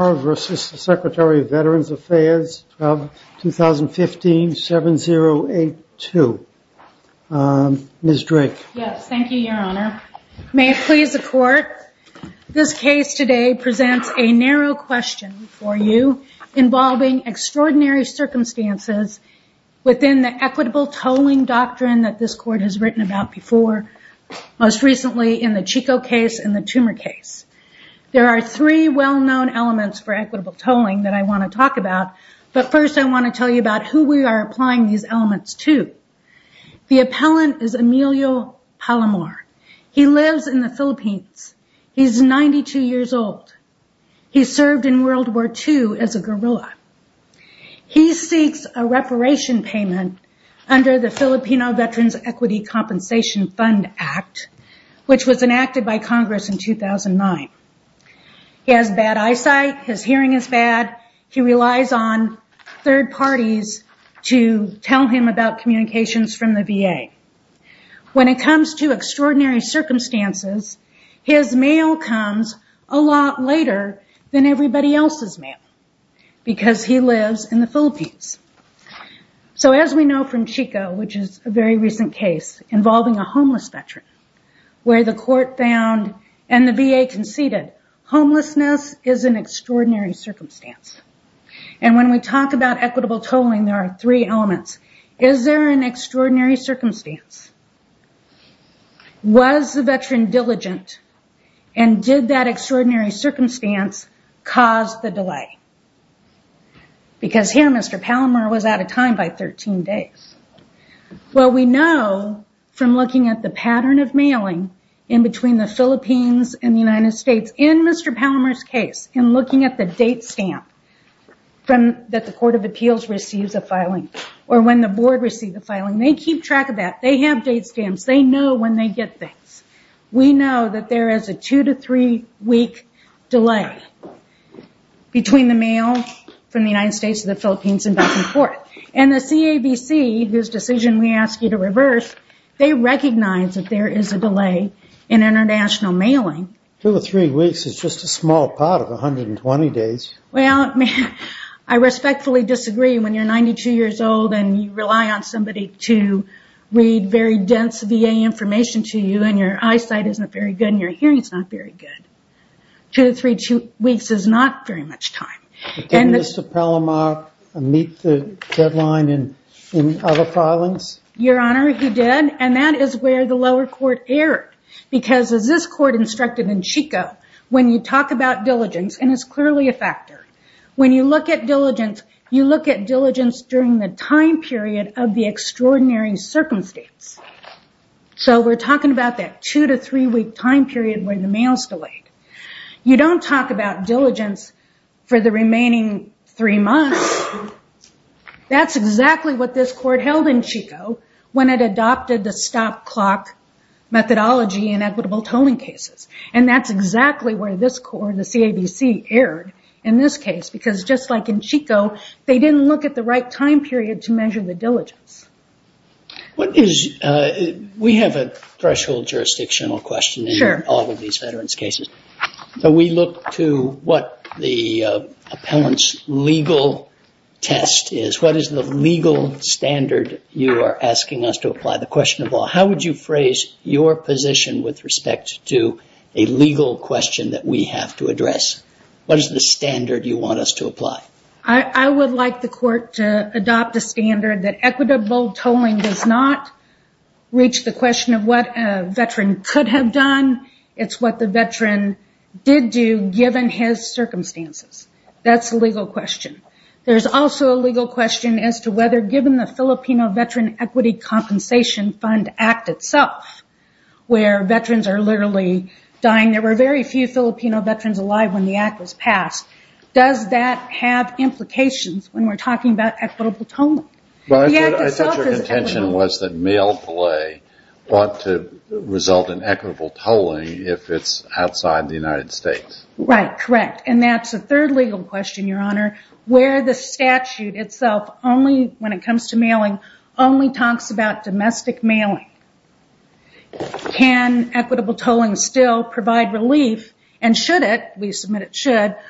vs. Secretary of Veterans Affairs of 2015-7082. Ms. Drake. Yes, thank you, your honor. May it please the court, this case today presents a narrow question for you involving extraordinary circumstances within the equitable tolling doctrine that this court has written about before, most recently in the Chico case and the equitable tolling that I want to talk about, but first I want to tell you about who we are applying these elements to. The appellant is Emilio Palomar. He lives in the Philippines. He's 92 years old. He served in World War II as a guerrilla. He seeks a reparation payment under the Filipino Veterans Equity Compensation Fund Act, which was enacted by Congress in 2009. He has bad eyesight. His hearing is bad. He relies on third parties to tell him about communications from the VA. When it comes to extraordinary circumstances, his mail comes a lot later than everybody else's mail because he lives in the Philippines. As we know from Chico, which is a very recent case involving a homeless Veteran, where the court found and the VA conceded, homelessness is an extraordinary circumstance. When we talk about equitable tolling, there are three elements. Is there an extraordinary circumstance? Was the Veteran diligent and did that extraordinary circumstance cause the delay? Here, Mr. Palomar was out of time by 13 days. We know from looking at the pattern of mailing in between the Philippines and the United States, in Mr. Palomar's case, in looking at the date stamp that the Court of Appeals receives a filing or when the board receives a filing, they keep track of that. They have date stamps. They know when they get things. We know that there is a two to three week delay between the mail from the United States to the Philippines and back and forth. The CABC, whose decision we ask you to reverse, they recognize that there is a delay in international mailing. Dr. Paul Palomar Two to three weeks is just a small part of 120 days. Dr. Jane Farrow Well, I respectfully disagree when you're 92 years old and you rely on somebody to read very dense VA information to you and your eyesight isn't very good and your hearing is not very good. Two to three weeks is not very much time. Dr. Paul Palomar Did Mr. Palomar meet the deadline in other filings? Dr. Jane Farrow Your Honor, he did. That is where the lower court erred. As this court instructed in Chico, when you talk about diligence, and it's clearly a factor, when you look at diligence, you look at diligence during the time period of the extraordinary circumstance. We're talking about that two to three week time period where the mail is delayed. You don't talk about diligence for the remaining three months. That's exactly what this court held in Chico when it adopted the stop clock methodology in equitable tolling cases. That's exactly where this court, the CABC, erred in this case because just like in Chico, they didn't look at the right time period to measure the diligence. Dr. Paul Palomar We have a threshold jurisdictional question in all of these veterans' cases. We look to what the appellant's legal test is. What is the legal standard you are asking us to apply? The question of all, how would you phrase your position with respect to a legal question that we have to address? What is the standard you want us to apply? I would like the court to adopt a standard that equitable tolling does not reach the question of what a veteran could have done. It's what the veteran did do given his circumstances. That's a legal question. There's also a legal question as to whether given the Filipino Veteran Equity Compensation Fund Act itself, where veterans are literally dying, there were very few Filipino veterans alive when the act was passed. That would have implications when we are talking about equitable tolling. Dr. Paul Palomar I thought your contention was that mail delay ought to result in equitable tolling if it's outside the United States. Dr. Jane Farrow Right, correct. That's a third legal question, Your Honor, where the statute itself, when it comes to mailing, only talks about domestic mailing. Can equitable tolling still provide relief? Should it? We submit international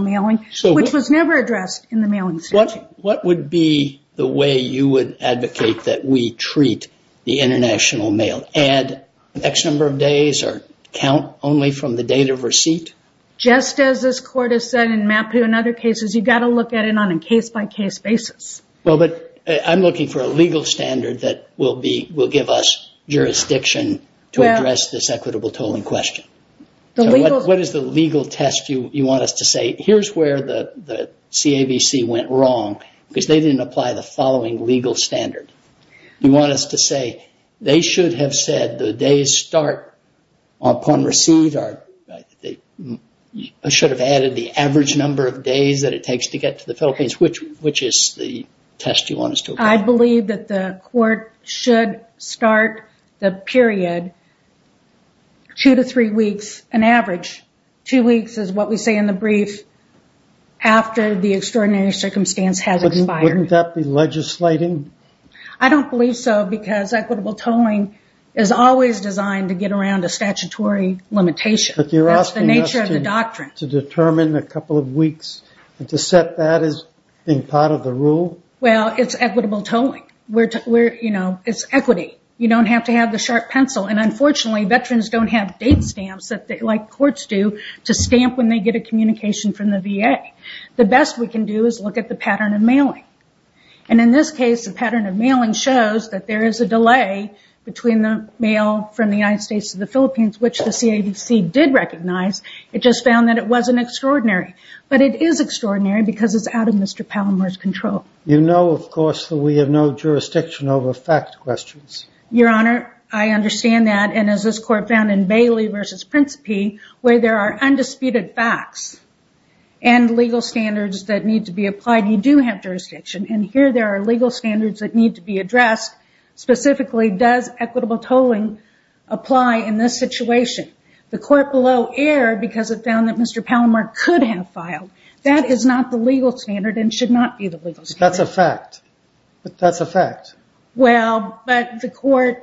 mailing, which was never addressed in the mailing statute. Dr. Paul Palomar What would be the way you would advocate that we treat the international mail? Add X number of days or count only from the date of receipt? Dr. Jane Farrow Just as this Court has said in MAPU and other cases, you've got to look at it on a case-by-case basis. Dr. Paul Palomar I'm looking for a legal standard that will give us jurisdiction to address this equitable tolling question. What is the legal test you want us to apply? Here's where the CAVC went wrong, because they didn't apply the following legal standard. You want us to say, they should have said the days start upon receipt, or they should have added the average number of days that it takes to get to the Philippines, which is the test you want us to apply? Dr. Jane Farrow I believe that the Court should start the after the extraordinary circumstance has expired. Dr. Paul Palomar Wouldn't that be legislating? Dr. Jane Farrow I don't believe so, because equitable tolling is always designed to get around a statutory limitation. That's the nature of the doctrine. Dr. Paul Palomar But you're asking us to determine a couple of weeks and to set that as being part of the rule? Dr. Jane Farrow It's equitable tolling. It's equity. You don't have to have the sharp pencil. Unfortunately, veterans don't have date stamps like courts do to stamp when they get a communication from the VA. The best we can do is look at the pattern of mailing. In this case, the pattern of mailing shows that there is a delay between the mail from the United States to the Philippines, which the CAVC did recognize. It just found that it wasn't extraordinary. But it is extraordinary because it's out of Mr. Palomar's control. Dr. Paul Palomar You know, of course, that we have no jurisdiction over fact questions. Dr. Jane Farrow Your Honor, I understand that. As this Court found in Bailey v. Principe, where there are undisputed facts and legal standards that need to be applied, you do have jurisdiction. Here, there are legal standards that need to be addressed. Specifically, does equitable tolling apply in this situation? The Court below error because it found that Mr. Palomar could have filed. That is not the legal standard and should not be the legal standard. Dr. Paul Palomar That's a fact. That's a fact. Dr. Jane Farrow Well, but the Court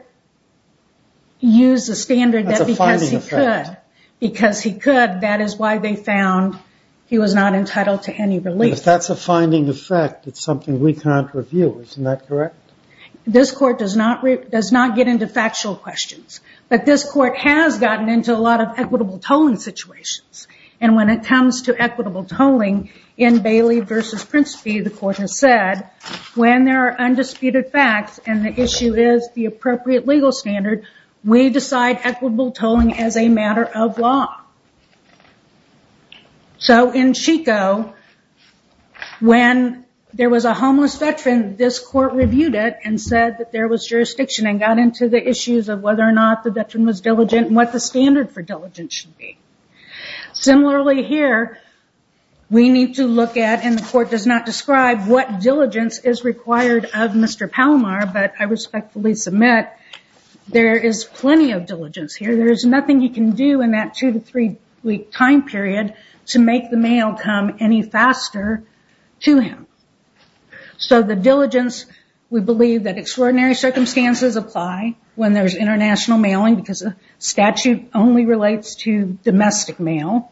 used the standard that because he could. Dr. Paul Palomar That's a finding effect. Dr. Jane Farrow Because he could, that is why they found he was not entitled to any relief. Dr. Paul Palomar If that's a finding effect, it's something we can't review. Isn't that correct? Dr. Jane Farrow This Court does not get into factual questions. But this Court has gotten into a lot of equitable tolling situations. When it comes to equitable tax and the issue is the appropriate legal standard, we decide equitable tolling as a matter of law. In Chico, when there was a homeless veteran, this Court reviewed it and said that there was jurisdiction and got into the issues of whether or not the veteran was diligent and what the standard for diligence should be. Similarly here, we need to look at, and the Court does not describe what diligence is I respectfully submit, there is plenty of diligence here. There is nothing you can do in that two to three week time period to make the mail come any faster to him. The diligence, we believe that extraordinary circumstances apply when there is international mailing because the statute only relates to domestic mail.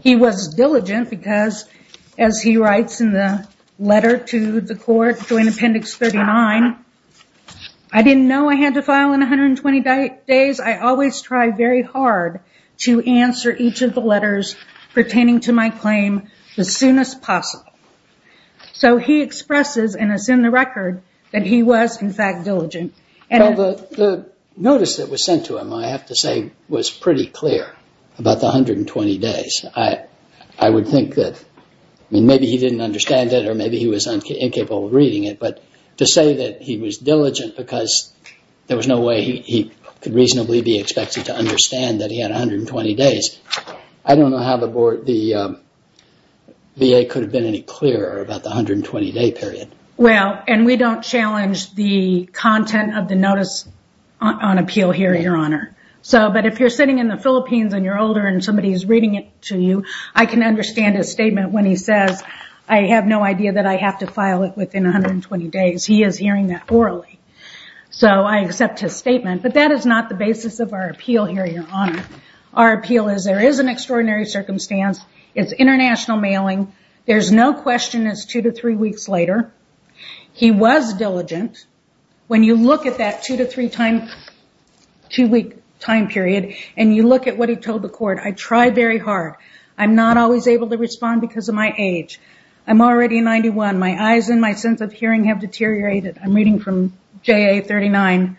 He was diligent because as he writes in the letter to the Court, Joint Appendix 39, I didn't know I had to file in 120 days. I always try very hard to answer each of the letters pertaining to my claim as soon as possible. So he expresses, and it's in the record, that he was in fact diligent. Justice Breyer The notice that was sent to him, I have to say, was pretty clear about the 120 days. I would think that maybe he didn't understand it or maybe he was incapable of reading it, but to say that he was diligent because there was no way he could reasonably be expected to understand that he had 120 days, I don't know how the VA could have been any clearer about the 120 day period. We don't challenge the content of the notice on appeal here, Your Honor. If you're sitting in the Philippines and you're older and somebody's reading it to you, I can understand his statement when he says, I have no idea that I have to file it within 120 days. He is hearing that orally. I accept his statement, but that is not the basis of our appeal here, Your Honor. Our appeal is there is an extraordinary circumstance. It's international mailing. There's no question it's two to three weeks later. He was diligent. When you look at that two-week time period and you look at what he told the court, I tried very hard. I'm not always able to respond because of my age. I'm already 91. My eyes and my sense of hearing have deteriorated. I'm reading from JA 39.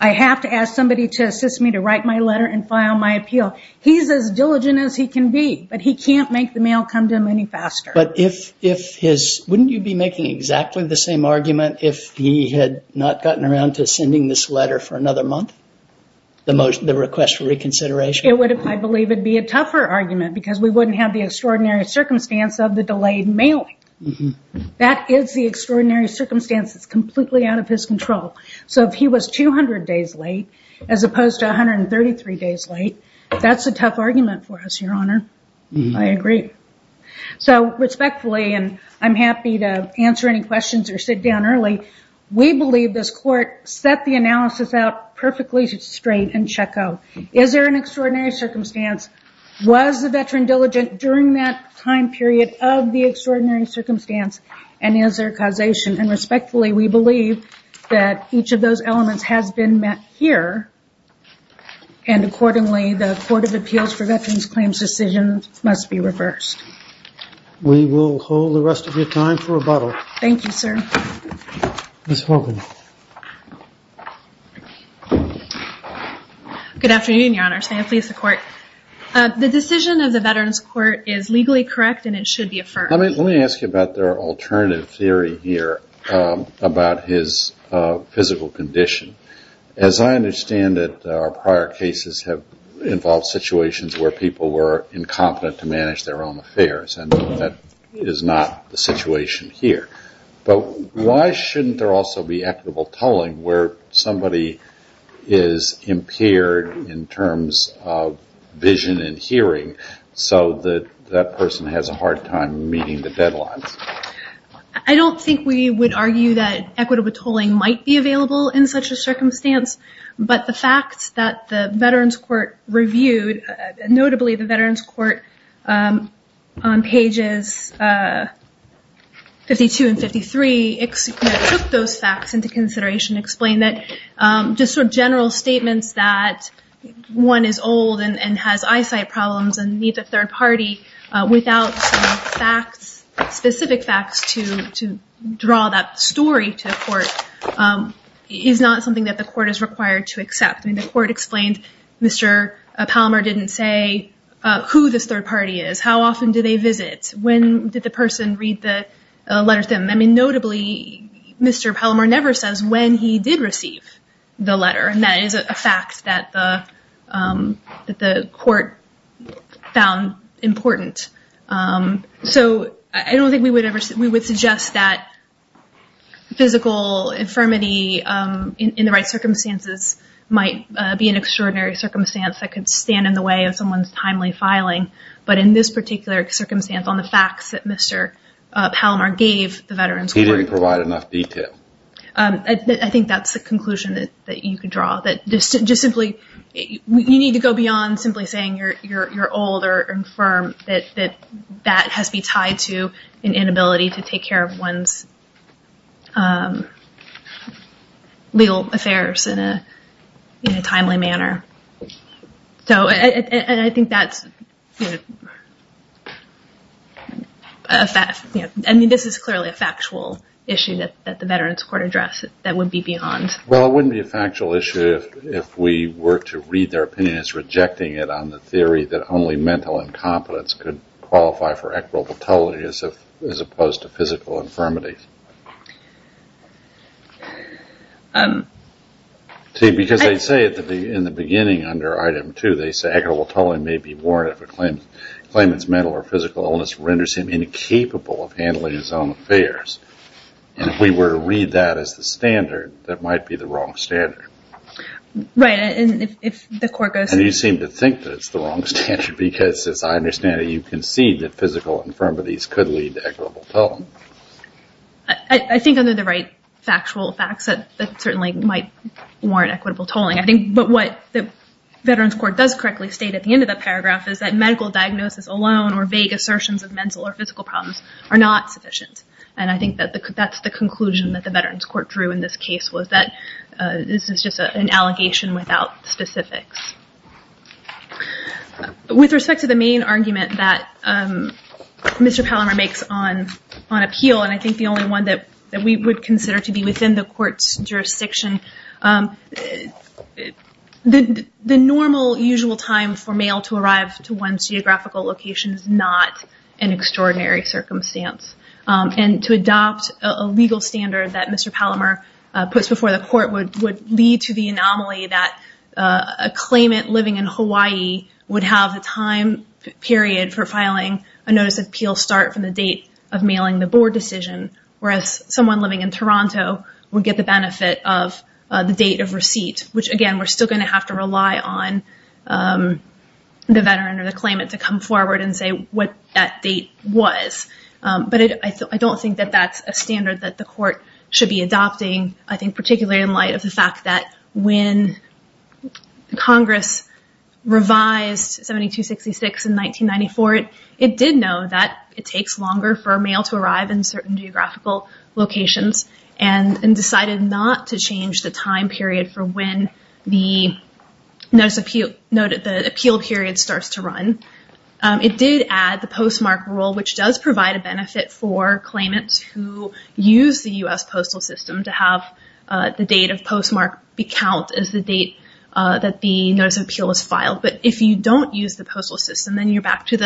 I have to ask somebody to assist me to write my letter and file my appeal. He's as diligent as he can be, but he can't make the mail come to him any faster. Wouldn't you be making exactly the same argument if he had not gotten around to sending this letter for another month, the request for reconsideration? It would, I believe, be a tougher argument because we wouldn't have the extraordinary circumstance of the delayed mailing. That is the extraordinary circumstance. It's completely out of his control. If he was 200 days late as opposed to 133 days late, that's a tough argument for us, Your Honor. I agree. Respectfully, and I'm happy to answer any questions or sit down early, we believe this court set the analysis out perfectly straight and checko. Is there an extraordinary circumstance? Was the veteran diligent during that time period of the extraordinary circumstance? Is there causation? Respectfully, we believe that each of those elements has been met here and accordingly, the Court of Appeals for Veterans Claims decisions must be reversed. We will hold the rest of your time for rebuttal. Thank you, sir. Ms. Hogan. Good afternoon, Your Honor. Sam Fleece, the court. The decision of the Veterans Court is legally correct and it should be affirmed. Let me ask you about their alternative theory here about his physical condition. As I understand it, our prior cases have involved situations where people were incompetent to manage their own affairs and that is not the situation here. Why shouldn't there also be equitable tolling where somebody is impaired in terms of vision and hearing so that that person has a hard time meeting the deadlines? I don't think we would argue that equitable tolling might be available in such a circumstance, but the facts that the Veterans Court reviewed, notably the Veterans Court on pages 52 and 53, it took those facts into consideration to explain that just sort of general statements that one is old and has eyesight problems and needs a third party without some facts, specific facts to draw that story to the court, is not something that the court is required to accept. The court explained Mr. Pallmer didn't say who this third party is, how often do they visit, when did the person read the letter to them. Notably, Mr. Pallmer never says when he did receive the letter and that is a fact that the court found important. So, I don't think we would suggest that physical infirmity in the right circumstances might be an extraordinary circumstance that could stand in the way of someone's timely filing, but in this particular circumstance on the facts that Mr. Pallmer gave the Veterans Court. He didn't provide enough detail. I think that is the conclusion that you could draw. You need to go beyond simply saying you're old or infirm, that that has to be tied to an inability to take care of one's legal affairs in a timely manner. I think that is a fact. This is clearly a factual issue that the Veterans Court addressed that would be beyond. Well, it wouldn't be a factual issue if we were to read their opinion as rejecting it on the theory that only mental incompetence could qualify for equitable tolerance as opposed to physical infirmity. Because they say in the beginning under item two, they say equitable tolerance may be warranted if a claimant's mental or physical illness renders him incapable of handling his own affairs. And if we were to read that as the standard, that might be the wrong standard. Right. And if the court goes- And you seem to think that it's the wrong standard because as I understand it, you concede that physical infirmities could lead to equitable tolerance. I think under the right factual facts that certainly might warrant equitable tolerance. But what the Veterans Court does correctly state at the end of the paragraph is that are not sufficient. And I think that that's the conclusion that the Veterans Court drew in this case was that this is just an allegation without specifics. With respect to the main argument that Mr. Pallimer makes on appeal, and I think the only one that we would consider to be within the court's jurisdiction, the normal usual time for mail to arrive to one's geographical location is not an extraordinary circumstance. And to adopt a legal standard that Mr. Pallimer puts before the court would lead to the anomaly that a claimant living in Hawaii would have a time period for filing a notice of appeal start from the date of mailing the board decision, whereas someone living in Toronto would get the benefit of the date of receipt, which again, we're still going to have to rely on the veteran or the claimant to come forward and say what that date was. But I don't think that that's a standard that the court should be adopting, I think particularly in light of the fact that when Congress revised 7266 in 1994, it did know that it takes longer for mail to arrive in certain geographical locations and decided not to change the time period for when the appeal period starts to run. It did add the postmark rule, which does provide a benefit for claimants who use the U.S. postal system to have the date of postmark be count as the date that the notice of appeal is filed. If you don't use the postal system, then you're back to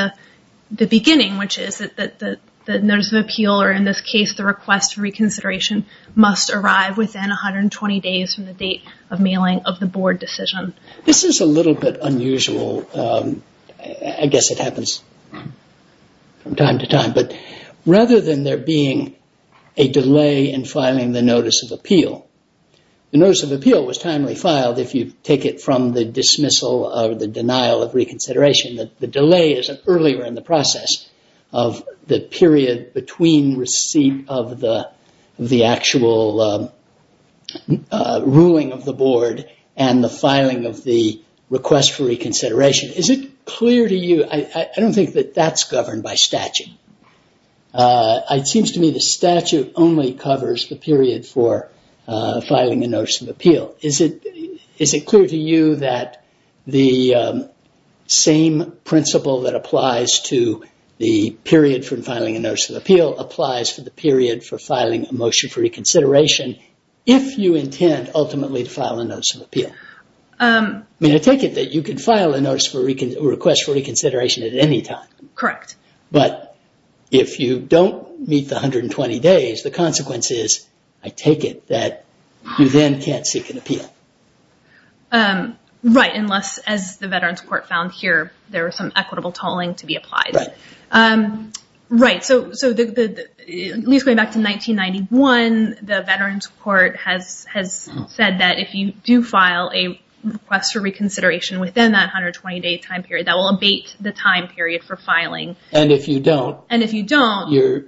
the beginning, which is that the notice of appeal, or in this case, the request for reconsideration must arrive within 120 days from the date of mailing of the board decision. This is a little bit unusual, I guess it happens from time to time, but rather than there being a delay in filing the notice of appeal, the notice of appeal was timely filed if you take it from the dismissal or the denial of reconsideration, that the delay is earlier in the process of the period between receipt of the actual ruling of the board and the filing of the request for reconsideration. Is it clear to you, I don't think that that's governed by statute. It seems to me the statute only covers the period for filing a notice of appeal. Is it clear to you that the same principle that applies to the period for filing a notice of appeal applies to the period for filing a motion for reconsideration, if you intend ultimately to file a notice of appeal? I mean, I take it that you can file a request for reconsideration at any time. Correct. But if you don't meet the 120 days, the consequence is, I take it, that you then can't seek an appeal. Right, unless, as the Veterans Court found here, there was some equitable tolling to be applied. Right. Right, so at least going back to 1991, the Veterans Court has said that if you do file a request for reconsideration within that 120 day time period, that will abate the time period for filing. And if you don't, you're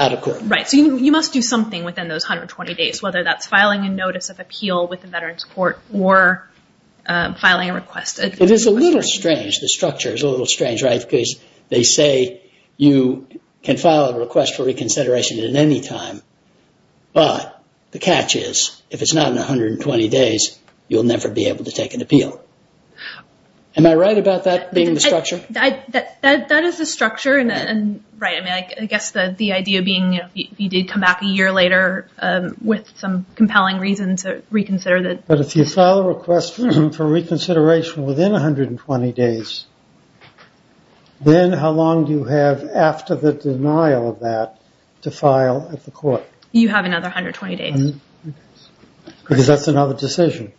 out of court. Right, so you must do something within those 120 days, whether that's filing a notice of appeal with the Veterans Court or filing a request. It is a little strange, the structure is a little strange, right, because they say you can file a request for reconsideration at any time, but the catch is, if it's not in 120 days, you'll never be able to take an appeal. Am I right about that being the structure? That is the structure, and right, I guess the idea being, if you did come back a year later with some compelling reason to reconsider that. But if you file a request for reconsideration within 120 days, then how long do you have after the denial of that to file at the court? You have another 120 days. Because that's another decision.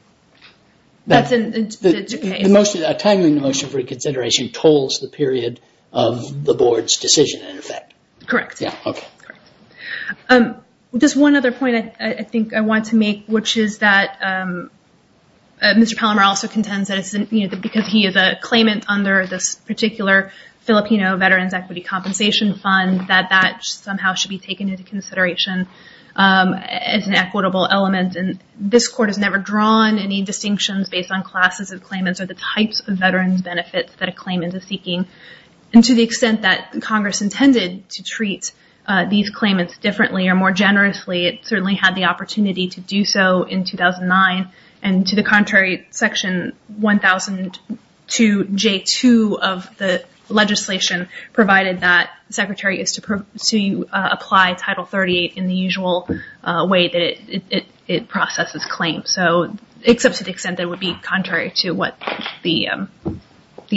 That's in two cases. A time in the motion for reconsideration tolls the period of the board's decision, in effect. Correct. Yeah, okay. Just one other point I think I want to make, which is that Mr. Palmer also contends that because he is a claimant under this particular Filipino Veterans Equity Compensation Fund, that that somehow should be taken into consideration as an equitable element, and this court has not drawn any distinctions based on classes of claimants or the types of veterans benefits that a claimant is seeking, and to the extent that Congress intended to treat these claimants differently or more generously, it certainly had the opportunity to do so in 2009, and to the contrary, Section 1002J2 of the legislation provided that the secretary is to apply Title 38 in the usual way that it processes claims. So except to the extent that it would be contrary to what the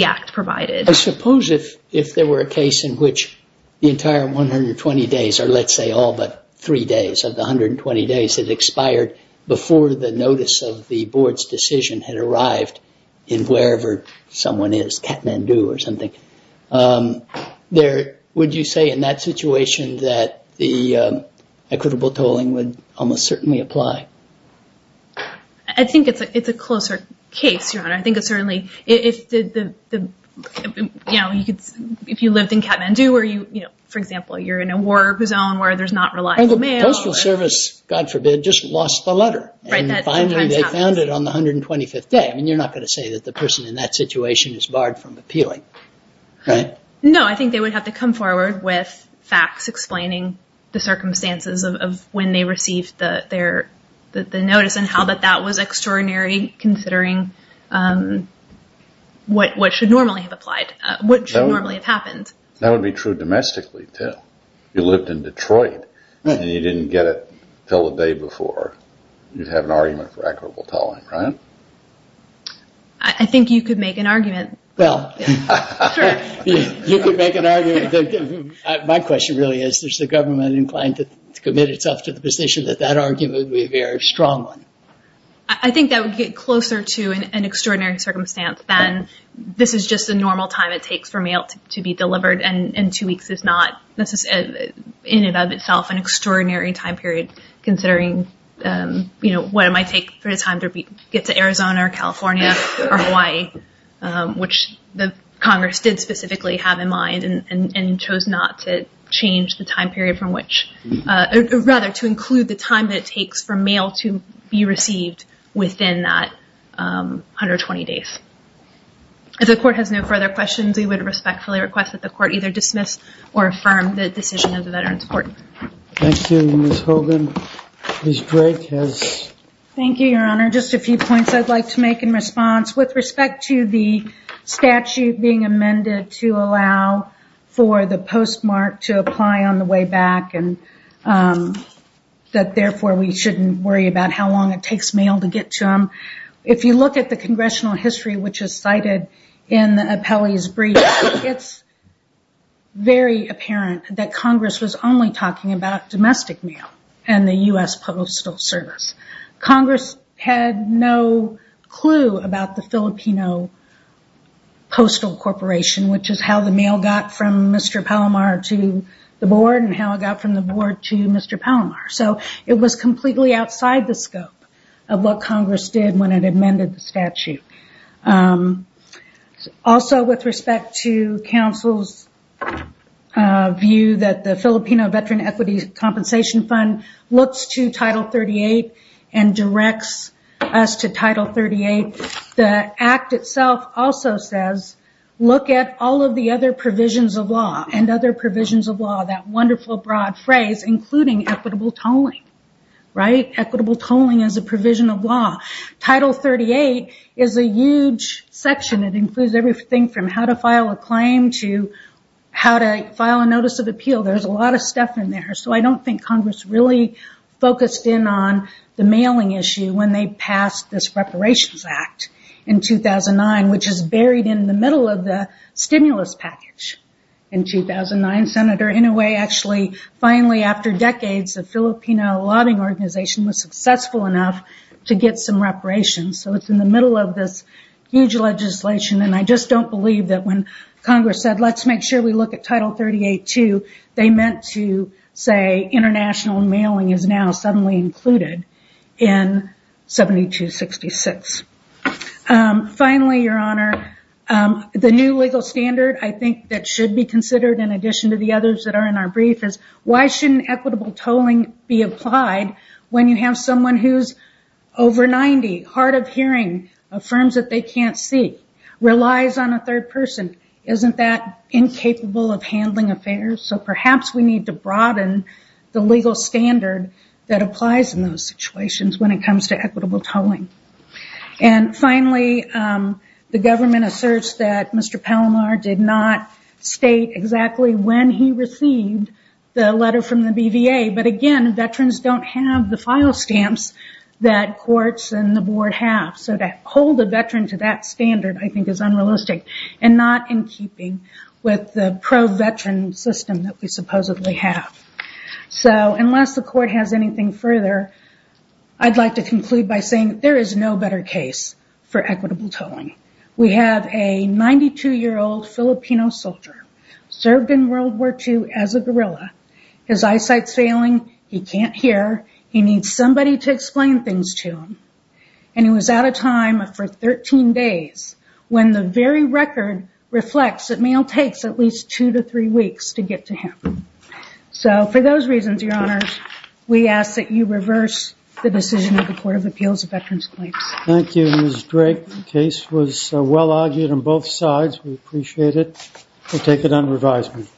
act provided. I suppose if there were a case in which the entire 120 days, or let's say all but three days of the 120 days that expired before the notice of the board's decision had arrived in wherever someone is, Kathmandu or something, would you say in that situation that the board equitable tolling would almost certainly apply? I think it's a closer case, Your Honor. I think it's certainly, if you lived in Kathmandu, for example, you're in a war zone where there's not reliable mail. And the Postal Service, God forbid, just lost the letter, and finally they found it on the 125th day. I mean, you're not going to say that the person in that situation is barred from appealing, right? No, I think they would have to come forward with facts explaining the circumstances of when they received the notice and how that that was extraordinary considering what should normally have applied, what should normally have happened. That would be true domestically, too. You lived in Detroit, and you didn't get it until the day before. You'd have an argument for equitable tolling, right? I think you could make an argument. Well, you could make an argument. My question really is, is the government inclined to commit itself to the position that that argument would be a very strong one? I think that would get closer to an extraordinary circumstance than this is just a normal time it takes for mail to be delivered, and two weeks is not in and of itself an extraordinary time period considering what it might take for it to get to Arizona or California or Hawaii, which the Congress did specifically have in mind and chose not to change the time period from which, or rather to include the time that it takes for mail to be received within that 120 days. If the court has no further questions, we would respectfully request that the court either dismiss or affirm the decision of the Veterans Court. Thank you, Ms. Hogan. Ms. Drake has... Thank you, Your Honor. Just a few points I'd like to make in response. With respect to the statute being amended to allow for the postmark to apply on the way back and that therefore we shouldn't worry about how long it takes mail to get to them, if you look at the congressional history, which is cited in the appellee's brief, it's very apparent that Congress was only talking about domestic mail and the U.S. Postal Service. Congress had no clue about the Filipino Postal Corporation, which is how the mail got from Mr. Palomar to the board and how it got from the board to Mr. Palomar. It was completely outside the scope of what Congress did when it amended the statute. Also, with respect to counsel's view that the Filipino Veteran Equity Compensation Fund looks to Title 38 and directs us to Title 38, the act itself also says, look at all of the other provisions of law and other provisions of law, that wonderful broad phrase, including equitable tolling. Equitable tolling is a provision of law. Title 38 is a huge section. It includes everything from how to file a claim to how to file a notice of appeal. There's a lot of stuff in there. I don't think Congress really focused in on the mailing issue when they passed this Reparations Act in 2009, which is buried in the middle of the stimulus package. In 2009, Senator Inouye actually finally, after decades, the Filipino Lobbying Organization was successful enough to get some reparations. It's in the middle of this huge legislation. I just don't believe that when Congress said, let's make sure we look at Title 38 too, they meant to say international mailing is now suddenly included in 7266. Finally, Your Honor, the new legal standard, I think, that should be considered in addition to the others that are in our brief, is why shouldn't equitable tolling be applied when you have someone who's over 90, hard of hearing, affirms that they can't see, relies on a third person. Isn't that incapable of handling affairs? Perhaps we need to broaden the legal standard that applies in those situations when it comes to equitable tolling. Finally, the government asserts that Mr. Palomar did not state exactly when he received the letter from the BVA. Again, veterans don't have the file stamps that courts and the board have. To hold a veteran to that standard, I think, is unrealistic, and not in keeping with the pro-veteran system that we supposedly have. Unless the court has anything further, I'd like to conclude by saying there is no better case for equitable tolling. We have a 92-year-old Filipino soldier, served in World War II as a guerrilla. His eyesight's failing. He can't hear. He needs somebody to explain things to him. He was out of time for 13 days, when the very record reflects that mail takes at least two to three weeks to get to him. For those reasons, Your Honors, we ask that you reverse the decision of the Court of Appeals of Veterans Claims. Thank you, Ms. Drake. The case was well argued on both sides. We appreciate it. We'll take it on revisement.